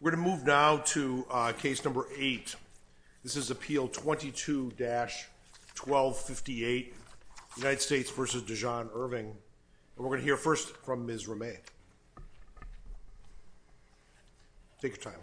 We're going to move now to case number 8. This is Appeal 22-1258, United States v. Dejon Irving, and we're going to hear first from Ms. Remy. Take your time.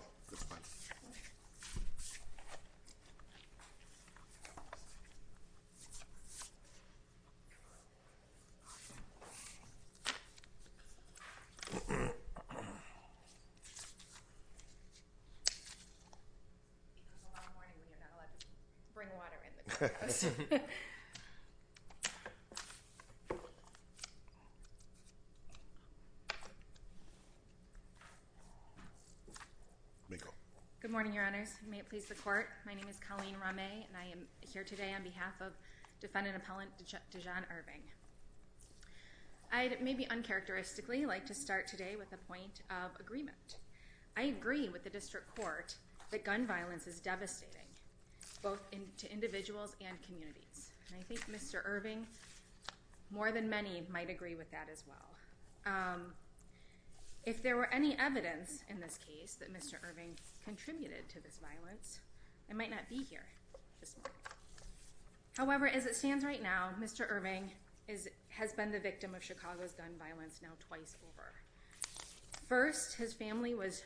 Good morning, Your Honors. May it please the Court, my name is Colleen Remy, and I am here today on behalf of Defendant Appellant Dejon Irving. I'd maybe uncharacteristically like to start today with a point of agreement. I agree with the District Court that gun violence is devastating, both to individuals and communities. And I think Mr. Irving, more than many, might agree with that as well. If there were any evidence in this case that Mr. Irving contributed to this violence, I might not be here this morning. However, as it stands right now, Mr. Irving has been the victim of Chicago's gun violence now twice over. First, his family was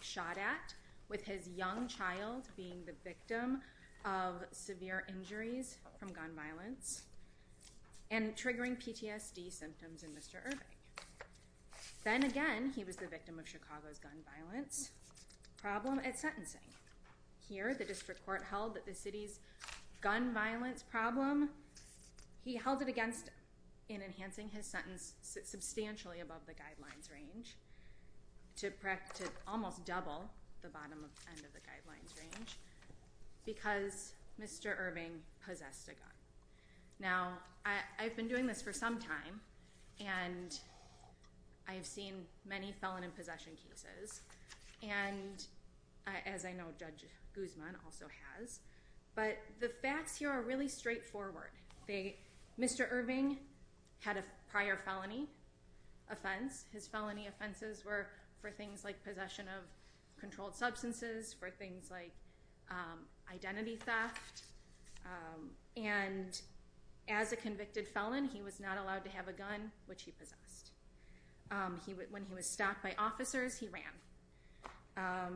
shot at, with his young child being the victim of severe injuries from gun violence and triggering PTSD symptoms in Mr. Irving. Then again, he was the victim of Chicago's gun violence problem at sentencing. Here, the District Court held that the city's gun violence problem, he held it against in enhancing his sentence substantially above the guidelines range, to almost double the bottom end of the guidelines range, because Mr. Irving possessed a gun. Now, I've been doing this for some time, and I've seen many felon and possession cases, and as I know Judge Guzman also has, but the facts here are really straightforward. Mr. Irving had a prior felony offense. His felony offenses were for things like possession of controlled substances, for things like identity theft, and as a convicted felon, he was not allowed to have a gun, which he possessed. When he was stopped by officers, he ran.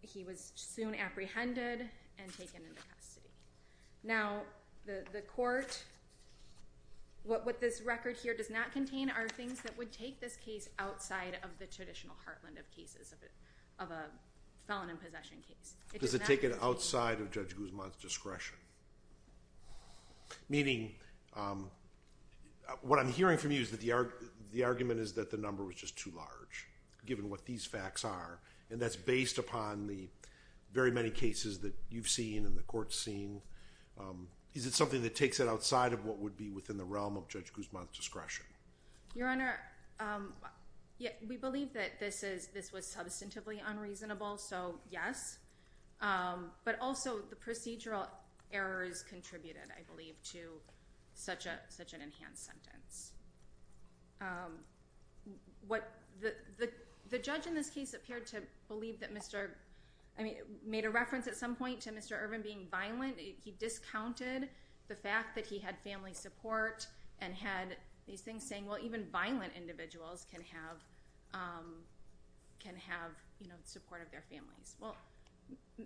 He was soon apprehended and taken into custody. Now, the court, what this record here does not contain are things that would take this case outside of the traditional heartland of cases of a felon and possession case. Does it take it outside of Judge Guzman's discretion? Meaning, what I'm hearing from you is that the argument is that the number was just too large, given what these facts are, and that's based upon the very many cases that you've seen and the court's seen. Is it something that takes it outside of what would be within the realm of Judge Guzman's discretion? Your Honor, we believe that this was substantively unreasonable, so yes, but also the procedural errors contributed, I believe, to such an enhanced sentence. The judge in this case appeared to believe that Mr.—I mean, made a reference at some point to Mr. Irving being violent. He discounted the fact that he had family support and had these things saying, well, even violent individuals can have support of their families. Well,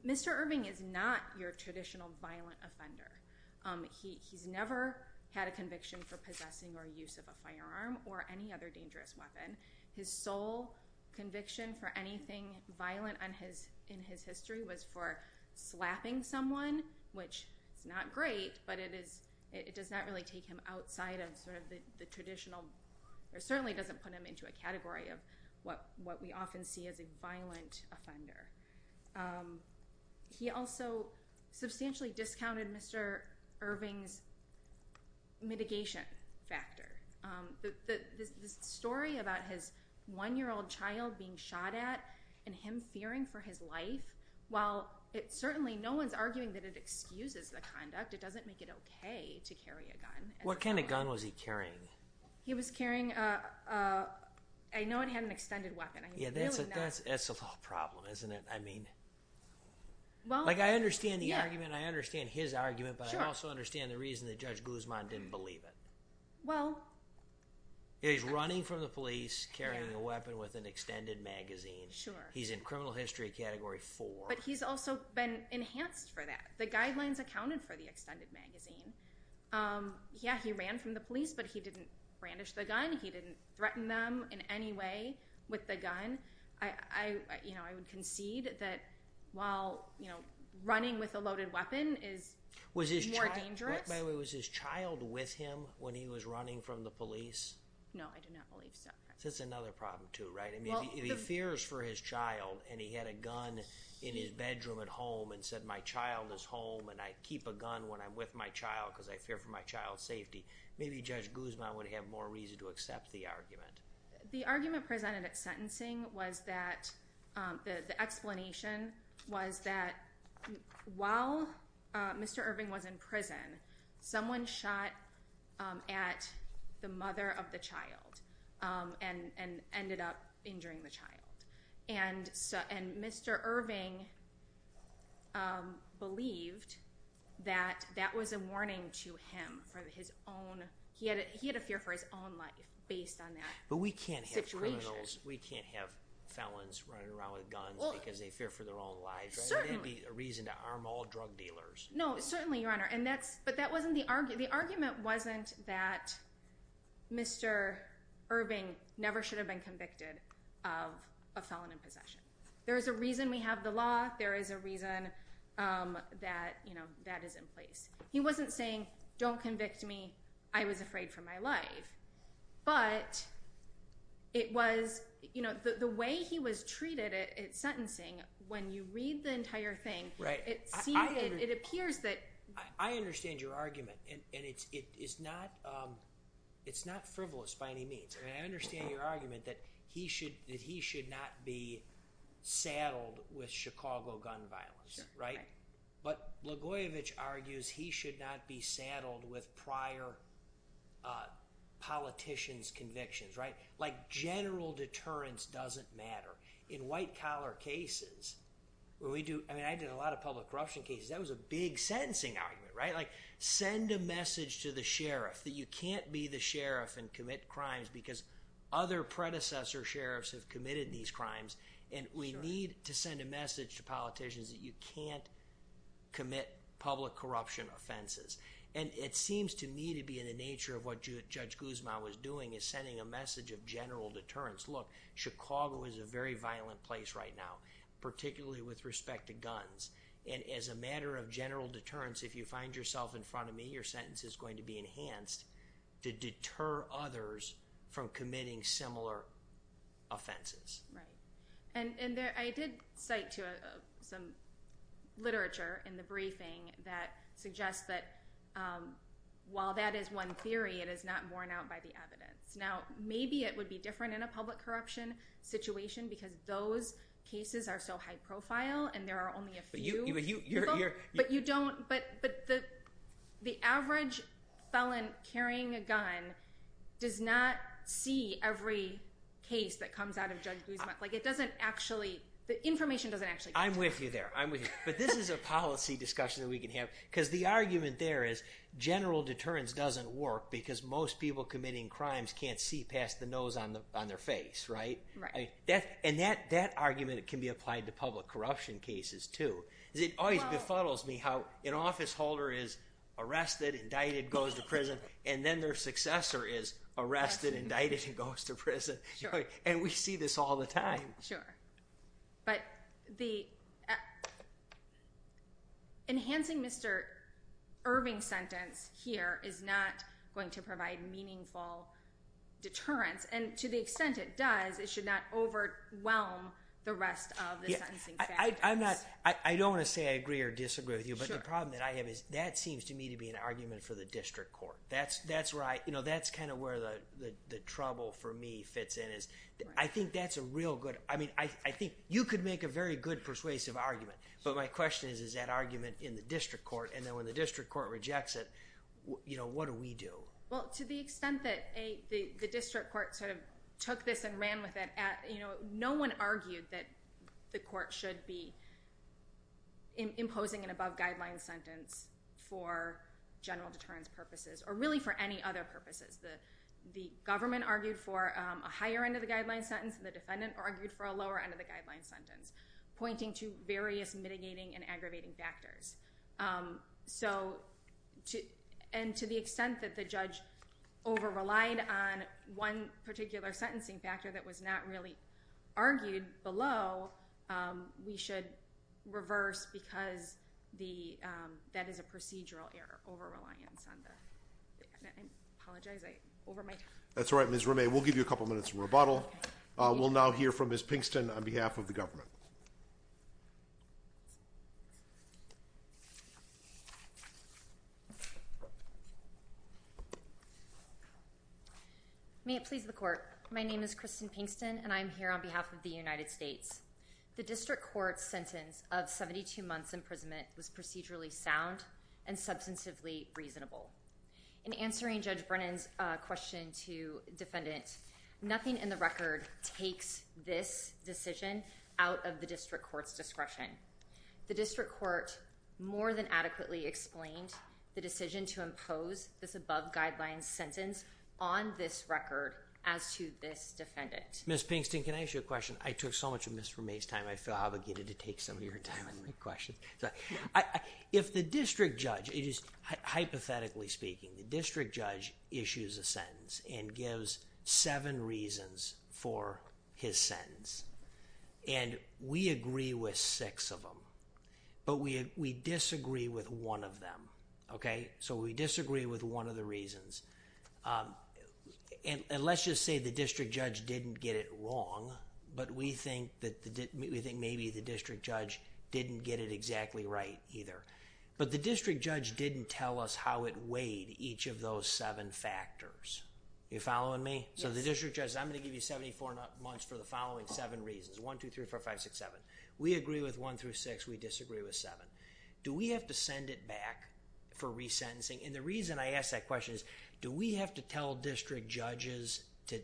Mr. Irving is not your traditional violent offender. He's never had a conviction for possessing or use of a firearm or any other dangerous weapon. His sole conviction for anything violent in his history was for slapping someone, which is not great, but it does not really take him outside of sort of the traditional—or certainly doesn't put him into a category of what we often see as a violent offender. He also substantially discounted Mr. Irving's mitigation factor. The story about his one-year-old child being shot at and him fearing for his life, while it certainly—no one's arguing that it excuses the conduct. It doesn't make it okay to carry a gun. What kind of gun was he carrying? He was carrying—I know it had an extended weapon. Yeah, that's a problem, isn't it? I mean, like I understand the argument. I understand his argument, but I also understand the reason that Judge Guzman didn't believe it. He's running from the police, carrying a weapon with an extended magazine. He's in criminal history category four. But he's also been enhanced for that. The guidelines accounted for the extended magazine. Yeah, he ran from the police, but he didn't brandish the gun. He didn't threaten them in any way with the gun. I would concede that while running with a loaded weapon is more dangerous— No, I do not believe so. That's another problem, too, right? If he fears for his child and he had a gun in his bedroom at home and said, my child is home and I keep a gun when I'm with my child because I fear for my child's safety, maybe Judge Guzman would have more reason to accept the argument. The argument presented at sentencing was that—the explanation was that while Mr. Irving was in prison, someone shot at the mother of the child and ended up injuring the child. And Mr. Irving believed that that was a warning to him for his own— he had a fear for his own life based on that situation. But we can't have criminals. We can't have felons running around with guns because they fear for their own lives, right? Certainly. There'd be a reason to arm all drug dealers. No, certainly, Your Honor. And that's—but that wasn't the argument. The argument wasn't that Mr. Irving never should have been convicted of a felon in possession. There is a reason we have the law. There is a reason that, you know, that is in place. He wasn't saying, don't convict me. I was afraid for my life. But it was—you know, the way he was treated at sentencing, when you read the entire thing, it appears that— I understand your argument, and it's not frivolous by any means. I mean, I understand your argument that he should not be saddled with Chicago gun violence, right? Sure, right. But Blagojevich argues he should not be saddled with prior politicians' convictions, right? Like general deterrence doesn't matter. In white-collar cases, when we do—I mean, I did a lot of public corruption cases. That was a big sentencing argument, right? Like, send a message to the sheriff that you can't be the sheriff and commit crimes because other predecessor sheriffs have committed these crimes, and we need to send a message to politicians that you can't commit public corruption offenses. And it seems to me to be in the nature of what Judge Guzman was doing, is sending a message of general deterrence. Look, Chicago is a very violent place right now, particularly with respect to guns. And as a matter of general deterrence, if you find yourself in front of me, your sentence is going to be enhanced to deter others from committing similar offenses. Right. And I did cite some literature in the briefing that suggests that while that is one theory, it is not borne out by the evidence. Now, maybe it would be different in a public corruption situation because those cases are so high-profile and there are only a few people. But you don't—but the average felon carrying a gun does not see every case that comes out of Judge Guzman. Like, it doesn't actually—the information doesn't actually— I'm with you there. I'm with you. But this is a policy discussion that we can have, because the argument there is general deterrence doesn't work because most people committing crimes can't see past the nose on their face, right? Right. And that argument can be applied to public corruption cases too. It always befuddles me how an officeholder is arrested, indicted, goes to prison, and then their successor is arrested, indicted, and goes to prison. Sure. And we see this all the time. Sure. But the—enhancing Mr. Irving's sentence here is not going to provide meaningful deterrence, and to the extent it does, it should not overwhelm the rest of the sentencing factors. I'm not—I don't want to say I agree or disagree with you, but the problem that I have is that seems to me to be an argument for the district court. That's where I—you know, that's kind of where the trouble for me fits in, is I think that's a real good—I mean, I think you could make a very good persuasive argument, but my question is, is that argument in the district court? And then when the district court rejects it, you know, what do we do? Well, to the extent that the district court sort of took this and ran with it, you know, no one argued that the court should be imposing an above-guideline sentence for general deterrence purposes or really for any other purposes. The government argued for a higher-end-of-the-guideline sentence, and the defendant argued for a lower-end-of-the-guideline sentence, pointing to various mitigating and aggravating factors. So—and to the extent that the judge over-relied on one particular sentencing factor that was not really argued below, we should reverse because that is a procedural error, over-reliance on the—I apologize, I—over my time. That's all right, Ms. Ramey, we'll give you a couple minutes of rebuttal. We'll now hear from Ms. Pinkston on behalf of the government. May it please the Court. My name is Kristen Pinkston, and I am here on behalf of the United States. The district court's sentence of 72 months imprisonment was procedurally sound and substantively reasonable. In answering Judge Brennan's question to defendants, nothing in the record takes this decision out of the district court's discretion. The district court more than adequately explained the decision to impose this above-guideline sentence on this record as to this defendant. Ms. Pinkston, can I ask you a question? I took so much of Ms. Ramey's time, I feel obligated to take some of your time and questions. If the district judge—hypothetically speaking, the district judge issues a sentence and gives seven reasons for his sentence, and we agree with six of them, but we disagree with one of them, okay? So we disagree with one of the reasons. And let's just say the district judge didn't get it wrong, but we think maybe the district judge didn't get it exactly right either. But the district judge didn't tell us how it weighed each of those seven factors. Are you following me? So the district judge says, I'm going to give you 74 months for the following seven reasons, one, two, three, four, five, six, seven. We agree with one through six. We disagree with seven. Do we have to send it back for resentencing? And the reason I ask that question is, do we have to tell district judges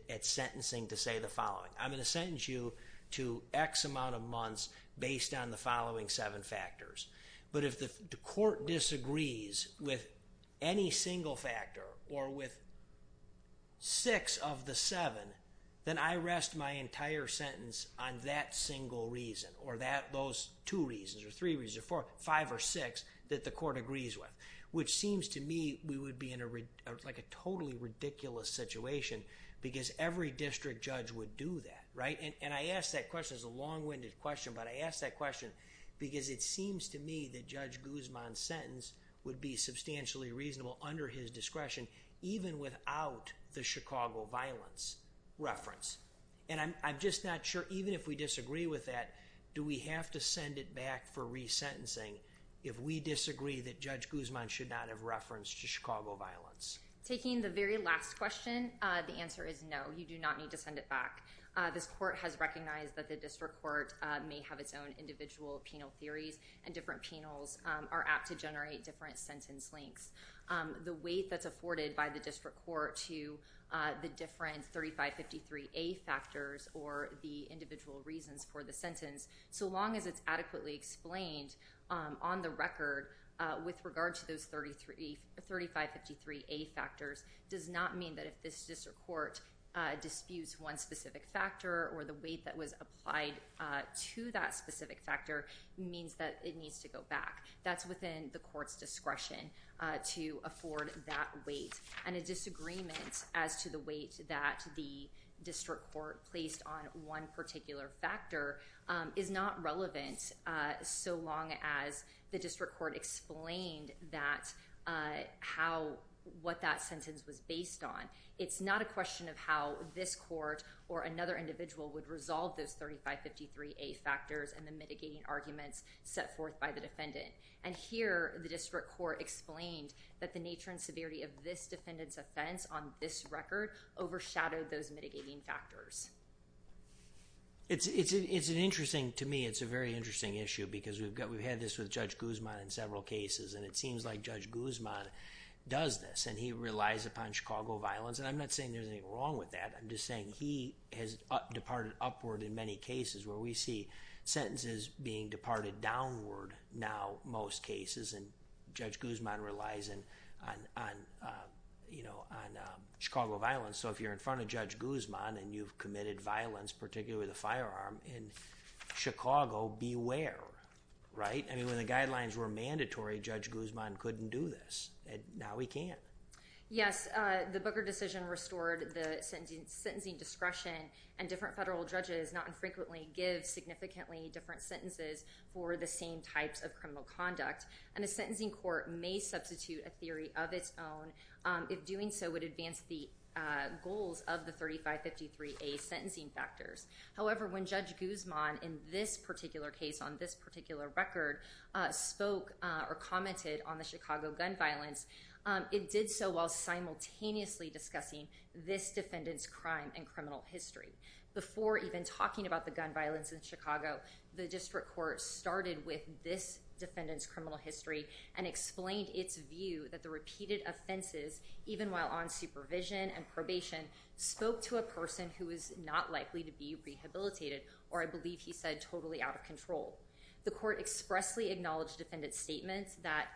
at sentencing to say the following? I'm going to sentence you to X amount of months based on the following seven factors. But if the court disagrees with any single factor or with six of the seven, then I rest my entire sentence on that single reason or those two reasons or three reasons or four, five or six that the court agrees with, which seems to me we would be in a like a totally ridiculous situation because every district judge would do that. Right. And I ask that question is a long winded question. But I ask that question because it seems to me that Judge Guzman's sentence would be substantially reasonable under his discretion, even without the Chicago violence reference. And I'm just not sure even if we disagree with that, do we have to send it back for resentencing if we disagree that Judge Guzman should not have reference to Chicago violence? Taking the very last question, the answer is no, you do not need to send it back. This court has recognized that the district court may have its own individual penal theories and different penals are apt to generate different sentence links. The weight that's afforded by the district court to the different 3553A factors or the individual reasons for the sentence, so long as it's adequately explained on the record with regard to those 3553A factors, does not mean that if this district court disputes one specific factor or the weight that was applied to that specific factor means that it needs to go back. That's within the court's discretion to afford that weight. And a disagreement as to the weight that the district court placed on one particular factor is not relevant, so long as the district court explained what that sentence was based on. It's not a question of how this court or another individual would resolve those 3553A factors and the mitigating arguments set forth by the defendant. And here, the district court explained that the nature and severity of this defendant's offense on this record overshadowed those mitigating factors. It's an interesting, to me, it's a very interesting issue because we've had this with Judge Guzman in several cases and it seems like Judge Guzman does this and he relies upon Chicago violence. And I'm not saying there's anything wrong with that, I'm just saying he has departed upward in many cases where we see sentences being departed downward now in most cases and Judge Guzman relies on Chicago violence. So if you're in front of Judge Guzman and you've committed violence, particularly with a firearm in Chicago, beware, right? I mean, when the guidelines were mandatory, Judge Guzman couldn't do this and now he can. Yes, the Booker decision restored the sentencing discretion and different federal judges not infrequently give significantly different sentences for the same types of criminal conduct and a sentencing court may substitute a theory of its own if doing so would advance the goals of the 3553A sentencing factors. However, when Judge Guzman in this particular case on this particular record spoke or commented on the Chicago gun violence, it did so while simultaneously discussing this defendant's crime and criminal history. Before even talking about the gun violence in Chicago, the district court started with this defendant's criminal history and explained its view that the repeated offenses, even while on supervision and probation, spoke to a person who is not likely to be rehabilitated or, I believe he said, totally out of control. The court expressly acknowledged defendant's statements that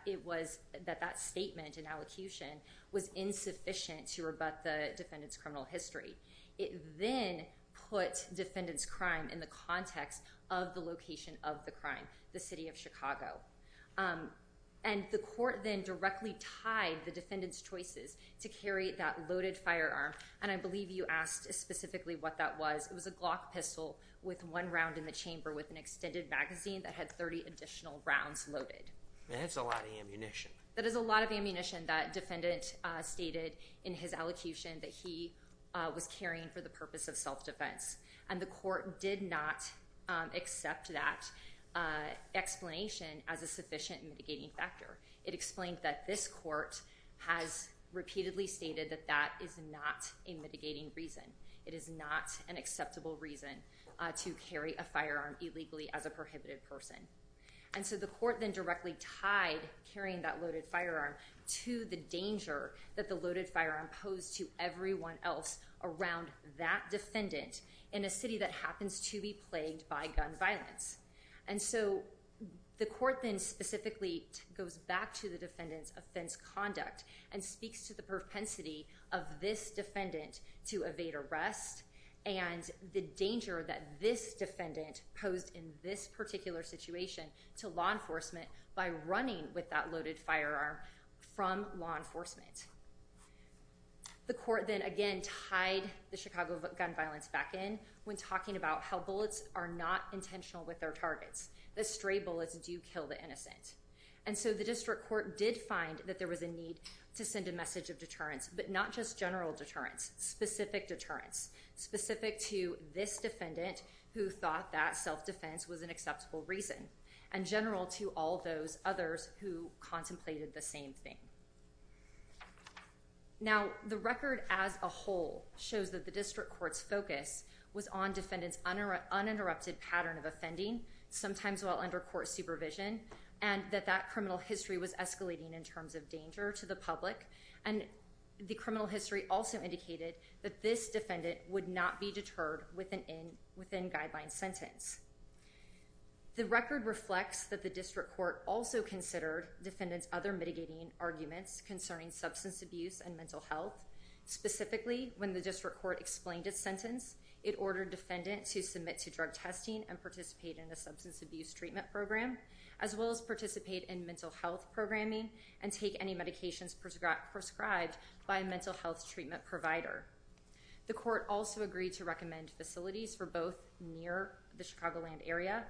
that statement and allocution was insufficient to rebut the defendant's criminal history. It then put defendant's crime in the context of the location of the crime, the city of Chicago. And the court then directly tied the defendant's choices to carry that loaded firearm. And I believe you asked specifically what that was. It was a Glock pistol with one round in the chamber with an extended magazine that had 30 additional rounds loaded. That's a lot of ammunition. That is a lot of ammunition that defendant stated in his allocution that he was carrying for the purpose of self-defense. And the court did not accept that explanation as a sufficient mitigating factor. It explained that this court has repeatedly stated that that is not a mitigating reason. It is not an acceptable reason to carry a firearm illegally as a prohibited person. And so the court then directly tied carrying that loaded firearm to the danger that the loaded firearm posed to everyone else around that defendant in a city that happens to be plagued by gun violence. And so the court then specifically goes back to the defendant's offense conduct and speaks to the propensity of this defendant to evade arrest. And the danger that this defendant posed in this particular situation to law enforcement by running with that loaded firearm from law enforcement. The court then again tied the Chicago gun violence back in when talking about how bullets are not intentional with their targets. The stray bullets do kill the innocent. And so the district court did find that there was a need to send a message of deterrence, but not just general deterrence. Specific deterrence. Specific to this defendant who thought that self-defense was an acceptable reason. And general to all those others who contemplated the same thing. Now, the record as a whole shows that the district court's focus was on defendant's uninterrupted pattern of offending, sometimes while under court supervision. And that that criminal history was escalating in terms of danger to the public. And the criminal history also indicated that this defendant would not be deterred within guideline sentence. The record reflects that the district court also considered defendant's other mitigating arguments concerning substance abuse and mental health. Specifically, when the district court explained its sentence, it ordered defendant to submit to drug testing and participate in a substance abuse treatment program. As well as participate in mental health programming and take any medications prescribed by a mental health treatment provider. The court also agreed to recommend facilities for both near the Chicagoland area.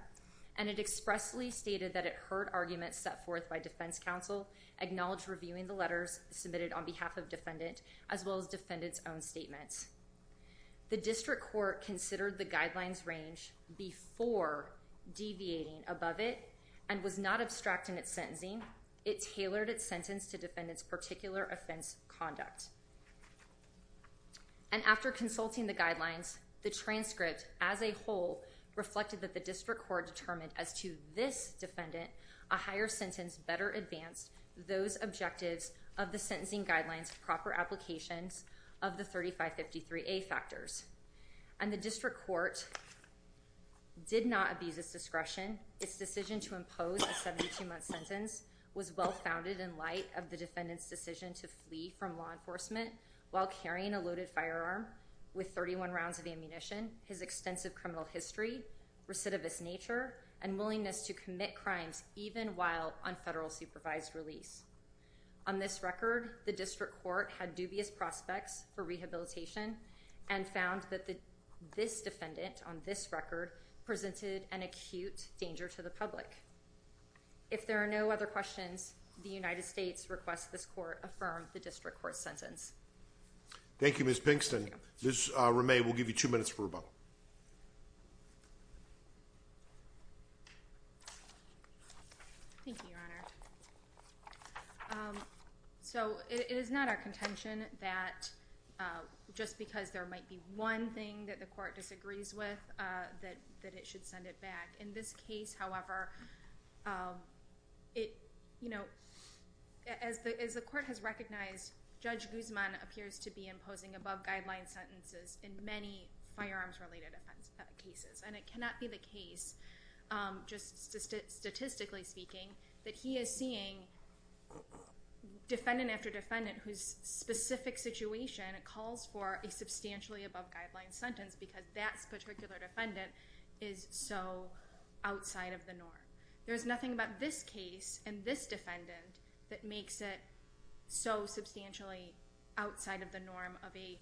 And it expressly stated that it heard arguments set forth by defense counsel. Acknowledged reviewing the letters submitted on behalf of defendant. As well as defendant's own statements. The district court considered the guidelines range before deviating above it. And was not abstracting its sentencing. It tailored its sentence to defendant's particular offense conduct. And after consulting the guidelines, the transcript as a whole reflected that the district court determined as to this defendant. A higher sentence better advanced those objectives of the sentencing guidelines proper applications of the 3553A factors. And the district court did not abuse its discretion. Its decision to impose a 72 month sentence was well founded in light of the defendant's decision to flee from law enforcement. While carrying a loaded firearm. With 31 rounds of ammunition. His extensive criminal history. Recidivist nature. And willingness to commit crimes even while on federal supervised release. On this record the district court had dubious prospects for rehabilitation. And found that this defendant on this record presented an acute danger to the public. If there are no other questions, the United States requests this court affirm the district court sentence. Thank you, Ms. Pinkston. Ms. Ramay will give you two minutes for rebuttal. Thank you, your honor. So it is not our contention that just because there might be one thing that the court disagrees with. That it should send it back. In this case, however, as the court has recognized. Judge Guzman appears to be imposing above guideline sentences in many firearms related cases. And it cannot be the case, just statistically speaking. That he is seeing defendant after defendant whose specific situation calls for a substantially above guideline sentence. Because that particular defendant is so outside of the norm. There is nothing about this case and this defendant that makes it so substantially outside of the norm of a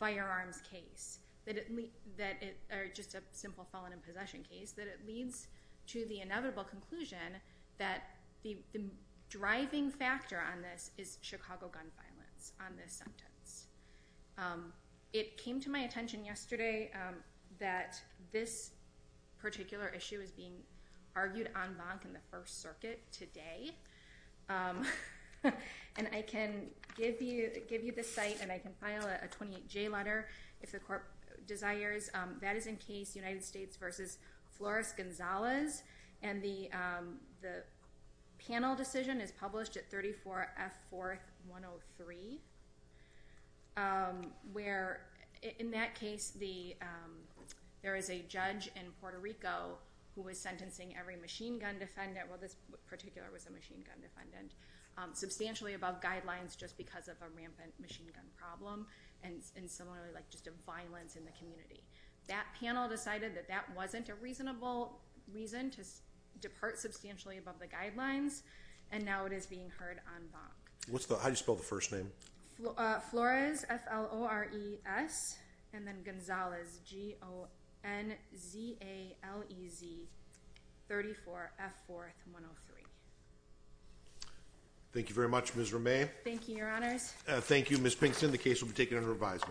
firearms case. Or just a simple felon in possession case. That it leads to the inevitable conclusion that the driving factor on this is Chicago gun violence. On this sentence. It came to my attention yesterday that this particular issue is being argued en banc in the first circuit today. And I can give you the site and I can file a 28-J letter if the court desires. That is in case United States versus Flores-Gonzalez. And the panel decision is published at 34 F 4th 103. Where in that case, there is a judge in Puerto Rico who is sentencing every machine gun defendant. Well, this particular was a machine gun defendant. Substantially above guidelines just because of a rampant machine gun problem. And similarly, like just a violence in the community. That panel decided that that wasn't a reasonable reason to depart substantially above the guidelines. And now it is being heard en banc. What's the, how do you spell the first name? Flores, F-L-O-R-E-S. And then Gonzalez, G-O-N-Z-A-L-E-Z. 34 F 4th 103. Thank you very much, Ms. Romay. Thank you, your honors. Thank you, Ms. Pinkston. The case will be taken under revisal.